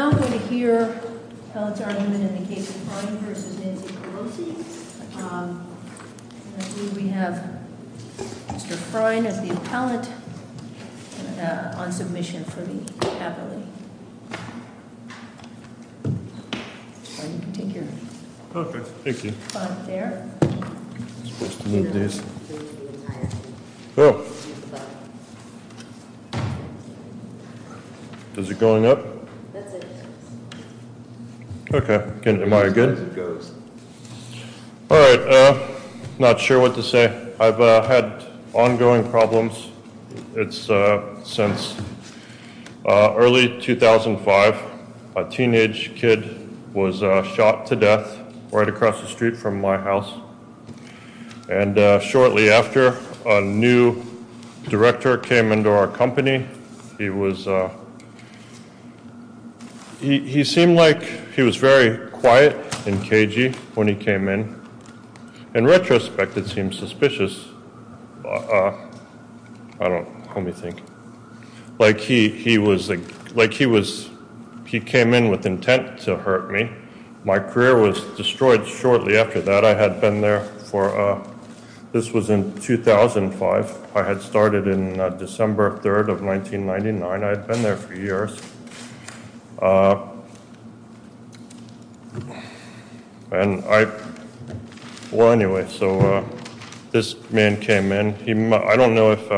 Now I'm going to hear Appellate's argument in the case of Frein v. Nancy Pelosi. I believe we have Mr. Frein as the appellate on submission for the capillary. Frein, you can take your spot there. I'm supposed to move these. Is it going up? Okay. Am I good? All right. Not sure what to say. I've had ongoing problems since early 2005. A teenage kid was shot to death right across the street from my house. And shortly after, a new director came into our company. He seemed like he was very quiet and cagey when he came in. In retrospect, it seems suspicious. I don't know what you think. Like he was, like he was, he came in with intent to hurt me. My career was destroyed shortly after that. I had been there for, this was in 2005. I had started in December 3rd of 1999. I had been there for years. And I, well, anyway, so this man came in. I don't know if,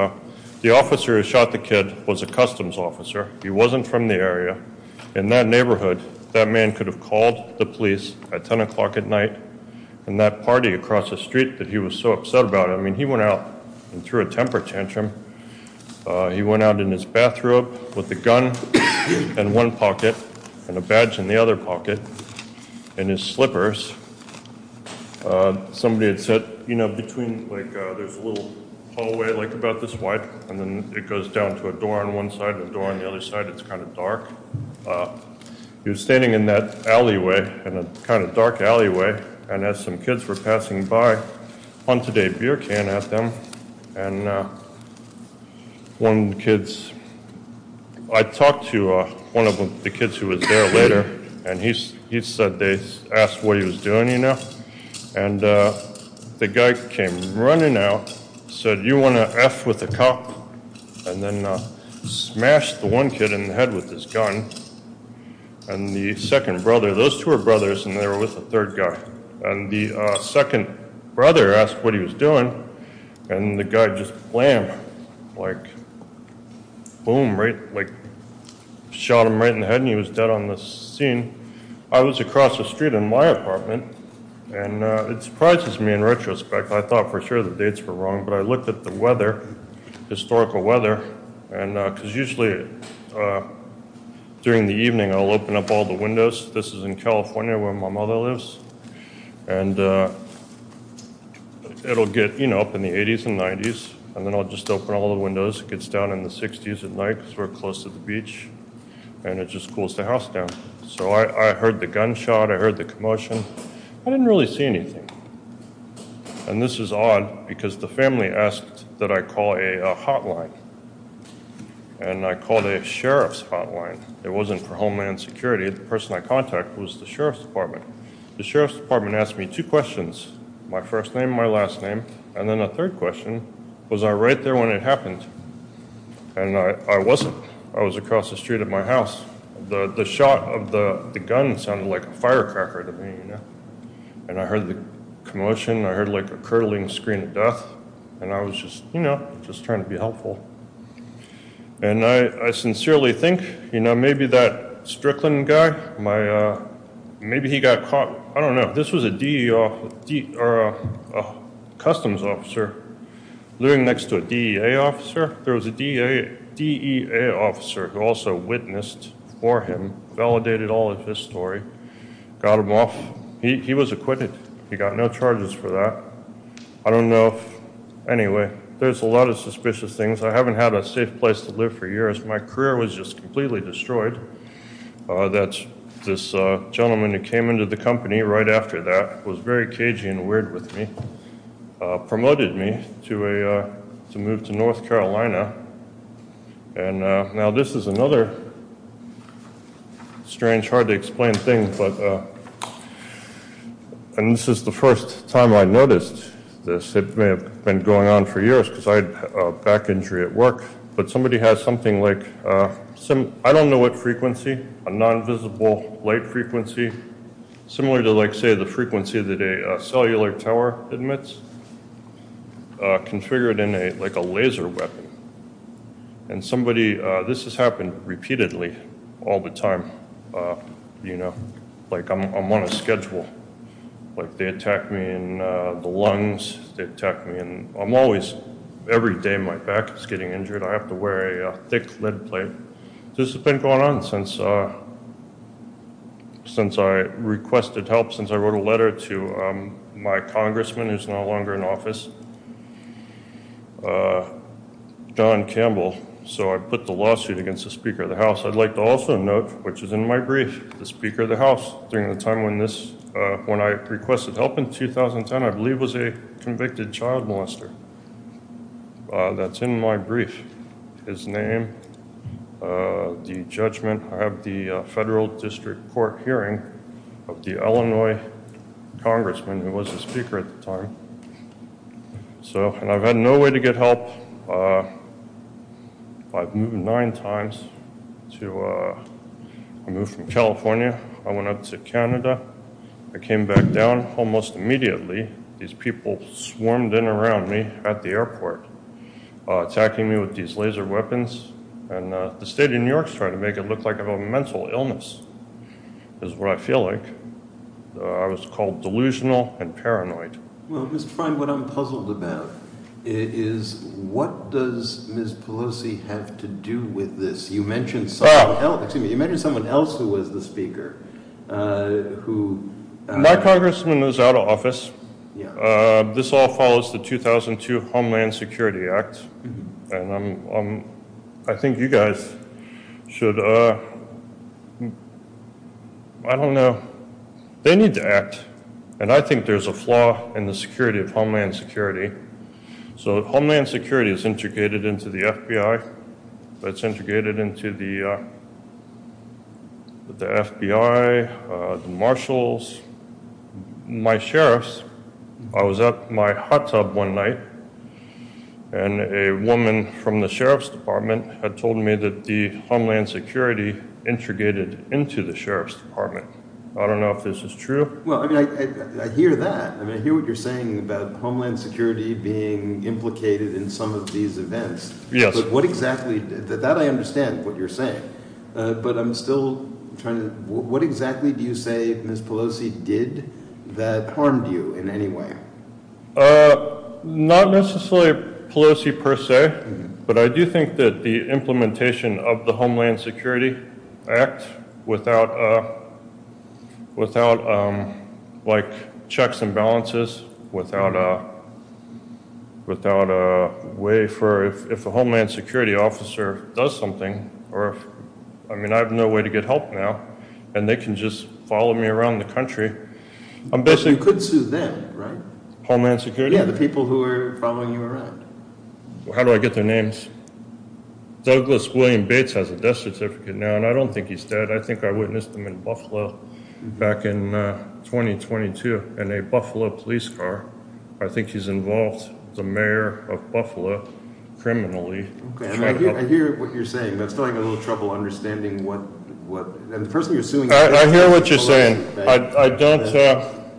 the officer who shot the kid was a customs officer. He wasn't from the area. In that neighborhood, that man could have called the police at 10 o'clock at night. And that party across the street that he was so upset about, I mean, he went out and threw a temper tantrum. He went out in his bathrobe with a gun in one pocket and a badge in the other pocket and his slippers. Somebody had said, you know, between, like, there's a little hallway like about this wide. And then it goes down to a door on one side and a door on the other side. It's kind of dark. He was standing in that alleyway, in a kind of dark alleyway. And as some kids were passing by, punted a beer can at them. And one of the kids, I talked to one of the kids who was there later. And he said they asked what he was doing, you know. And the guy came running out, said, you want to F with the cop? And then smashed the one kid in the head with his gun. And the second brother, those two are brothers, and they were with the third guy. And the second brother asked what he was doing. And the guy just blam, like, boom, right, like, shot him right in the head. And he was dead on the scene. I was across the street in my apartment. And it surprises me in retrospect. I thought for sure the dates were wrong. But I looked at the weather, historical weather. And because usually during the evening I'll open up all the windows. This is in California where my mother lives. And it'll get, you know, up in the 80s and 90s. And then I'll just open all the windows. It gets down in the 60s at night because we're close to the beach. And it just cools the house down. So I heard the gunshot. I heard the commotion. I didn't really see anything. And this is odd because the family asked that I call a hotline. And I called a sheriff's hotline. It wasn't for Homeland Security. The person I contacted was the sheriff's department. The sheriff's department asked me two questions, my first name, my last name. And then a third question, was I right there when it happened? And I wasn't. I was across the street at my house. The shot of the gun sounded like a firecracker to me. And I heard the commotion. I heard, like, a curdling scream of death. And I was just, you know, just trying to be helpful. And I sincerely think, you know, maybe that Strickland guy, maybe he got caught. I don't know. This was a customs officer living next to a DEA officer. There was a DEA officer who also witnessed for him, validated all of his story, got him off. He was acquitted. He got no charges for that. I don't know. Anyway, there's a lot of suspicious things. I haven't had a safe place to live for years. My career was just completely destroyed. This gentleman who came into the company right after that was very cagey and weird with me, promoted me to move to North Carolina. And now this is another strange, hard-to-explain thing. And this is the first time I noticed this. It may have been going on for years because I had a back injury at work. But somebody has something like, I don't know what frequency, a non-visible light frequency, similar to like say the frequency that a cellular tower emits, configured in like a laser weapon. And somebody, this has happened repeatedly all the time. You know, like I'm on a schedule. Like they attack me in the lungs. They attack me in, I'm always, every day my back is getting injured. I have to wear a thick lid plate. This has been going on since I requested help, since I wrote a letter to my congressman, who's no longer in office, John Campbell. So I put the lawsuit against the Speaker of the House. I'd like to also note, which is in my brief, the Speaker of the House, during the time when this, when I requested help in 2010, I believe was a convicted child molester. That's in my brief. His name, the judgment. I have the federal district court hearing of the Illinois congressman who was the Speaker at the time. So, and I've had no way to get help. I've moved nine times to, I moved from California. I went up to Canada. I came back down almost immediately. These people swarmed in around me at the airport, attacking me with these laser weapons. And the state of New York is trying to make it look like I have a mental illness, is what I feel like. I was called delusional and paranoid. Well, Mr. Fein, what I'm puzzled about is what does Ms. Pelosi have to do with this? You mentioned someone else who was the Speaker. My congressman is out of office. This all follows the 2002 Homeland Security Act. And I think you guys should, I don't know. They need to act. And I think there's a flaw in the security of Homeland Security. So Homeland Security is integrated into the FBI. It's integrated into the FBI, the marshals, my sheriffs. I was at my hot tub one night, and a woman from the sheriff's department had told me that the Homeland Security integrated into the sheriff's department. I don't know if this is true. Well, I mean, I hear that. I mean, I hear what you're saying about Homeland Security being implicated in some of these events. That I understand what you're saying. But I'm still trying to, what exactly do you say Ms. Pelosi did that harmed you in any way? Not necessarily Pelosi per se. But I do think that the implementation of the Homeland Security Act without, like, checks and balances. Without a way for, if a Homeland Security officer does something. I mean, I have no way to get help now. And they can just follow me around the country. You could sue them, right? Homeland Security? Yeah, the people who are following you around. How do I get their names? Douglas William Bates has a death certificate now, and I don't think he's dead. I think I witnessed him in Buffalo back in 2022 in a Buffalo police car. I think he's involved with the mayor of Buffalo criminally. I hear what you're saying, but I'm still having a little trouble understanding what, and the person you're suing. I hear what you're saying. I don't,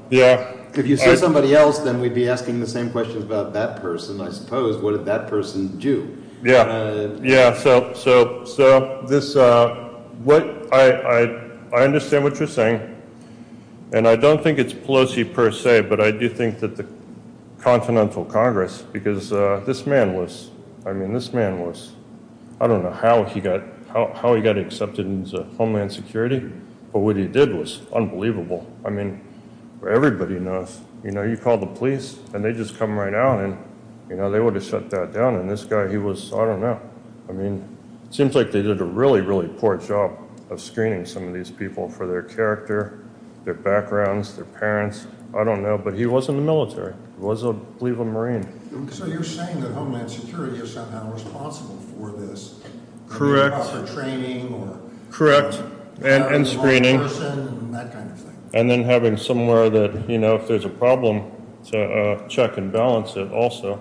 yeah. If you sue somebody else, then we'd be asking the same question about that person, I suppose. What did that person do? Yeah, yeah. So, this, what, I understand what you're saying. And I don't think it's Pelosi per se, but I do think that the Continental Congress, because this man was, I mean, this man was. I don't know how he got, how he got accepted into Homeland Security, but what he did was unbelievable. I mean, everybody knows, you know, you call the police and they just come right out and, you know, they would have shut that down. And this guy, he was, I don't know. I mean, it seems like they did a really, really poor job of screening some of these people for their character, their backgrounds, their parents. I don't know. But he was in the military. He was, I believe, a Marine. So, you're saying that Homeland Security is somehow responsible for this? Correct. For training or? Correct. And screening. And then having somewhere that, you know, if there's a problem, to check and balance it also.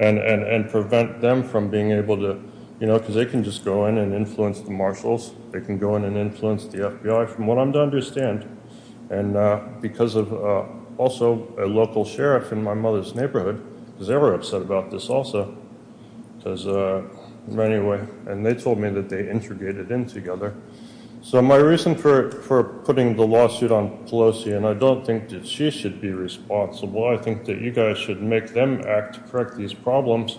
And prevent them from being able to, you know, because they can just go in and influence the marshals. They can go in and influence the FBI, from what I'm to understand. And because of also a local sheriff in my mother's neighborhood, because they were upset about this also. Because, anyway, and they told me that they integrated in together. So, my reason for putting the lawsuit on Pelosi, and I don't think that she should be responsible. I think that you guys should make them act to correct these problems.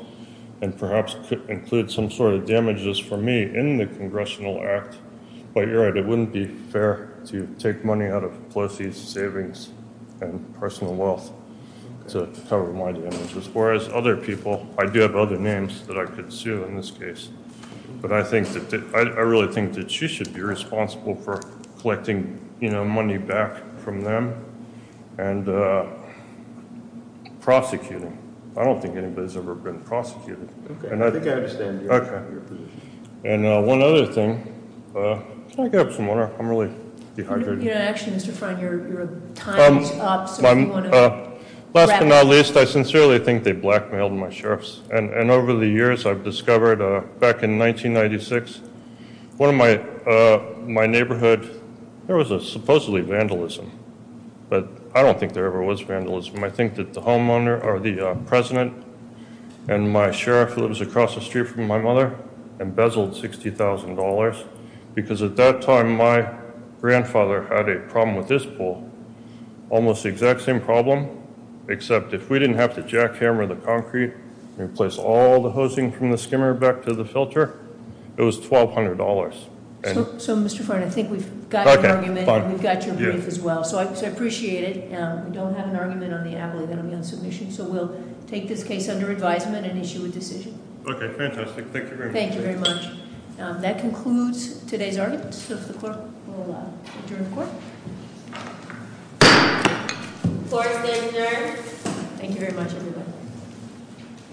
And perhaps include some sort of damages for me in the Congressional Act. But you're right. It wouldn't be fair to take money out of Pelosi's savings and personal wealth to cover my damages. Whereas other people, I do have other names that I could sue in this case. But I really think that she should be responsible for collecting, you know, money back from them. And prosecuting. I don't think anybody's ever been prosecuted. Okay, I think I understand your position. And one other thing. Can I get up some more? I'm really dehydrated. Actually, Mr. Freund, your time is up. Last but not least, I sincerely think they blackmailed my sheriffs. And over the years, I've discovered back in 1996, one of my neighborhood, there was supposedly vandalism. But I don't think there ever was vandalism. I think that the homeowner or the president and my sheriff who lives across the street from my mother embezzled $60,000. Because at that time, my grandfather had a problem with this bull. Almost the exact same problem, except if we didn't have to jackhammer the concrete and replace all the hosing from the skimmer back to the filter, it was $1,200. And- So, Mr. Freund, I think we've got your argument. Okay, fine. And we've got your brief as well. So I appreciate it. We don't have an argument on the ability of the unsubmission. So we'll take this case under advisement and issue a decision. Okay, fantastic. Thank you very much. Thank you very much. That concludes today's argument. So if the clerk will adjourn the court. Court is adjourned. Thank you very much, everybody.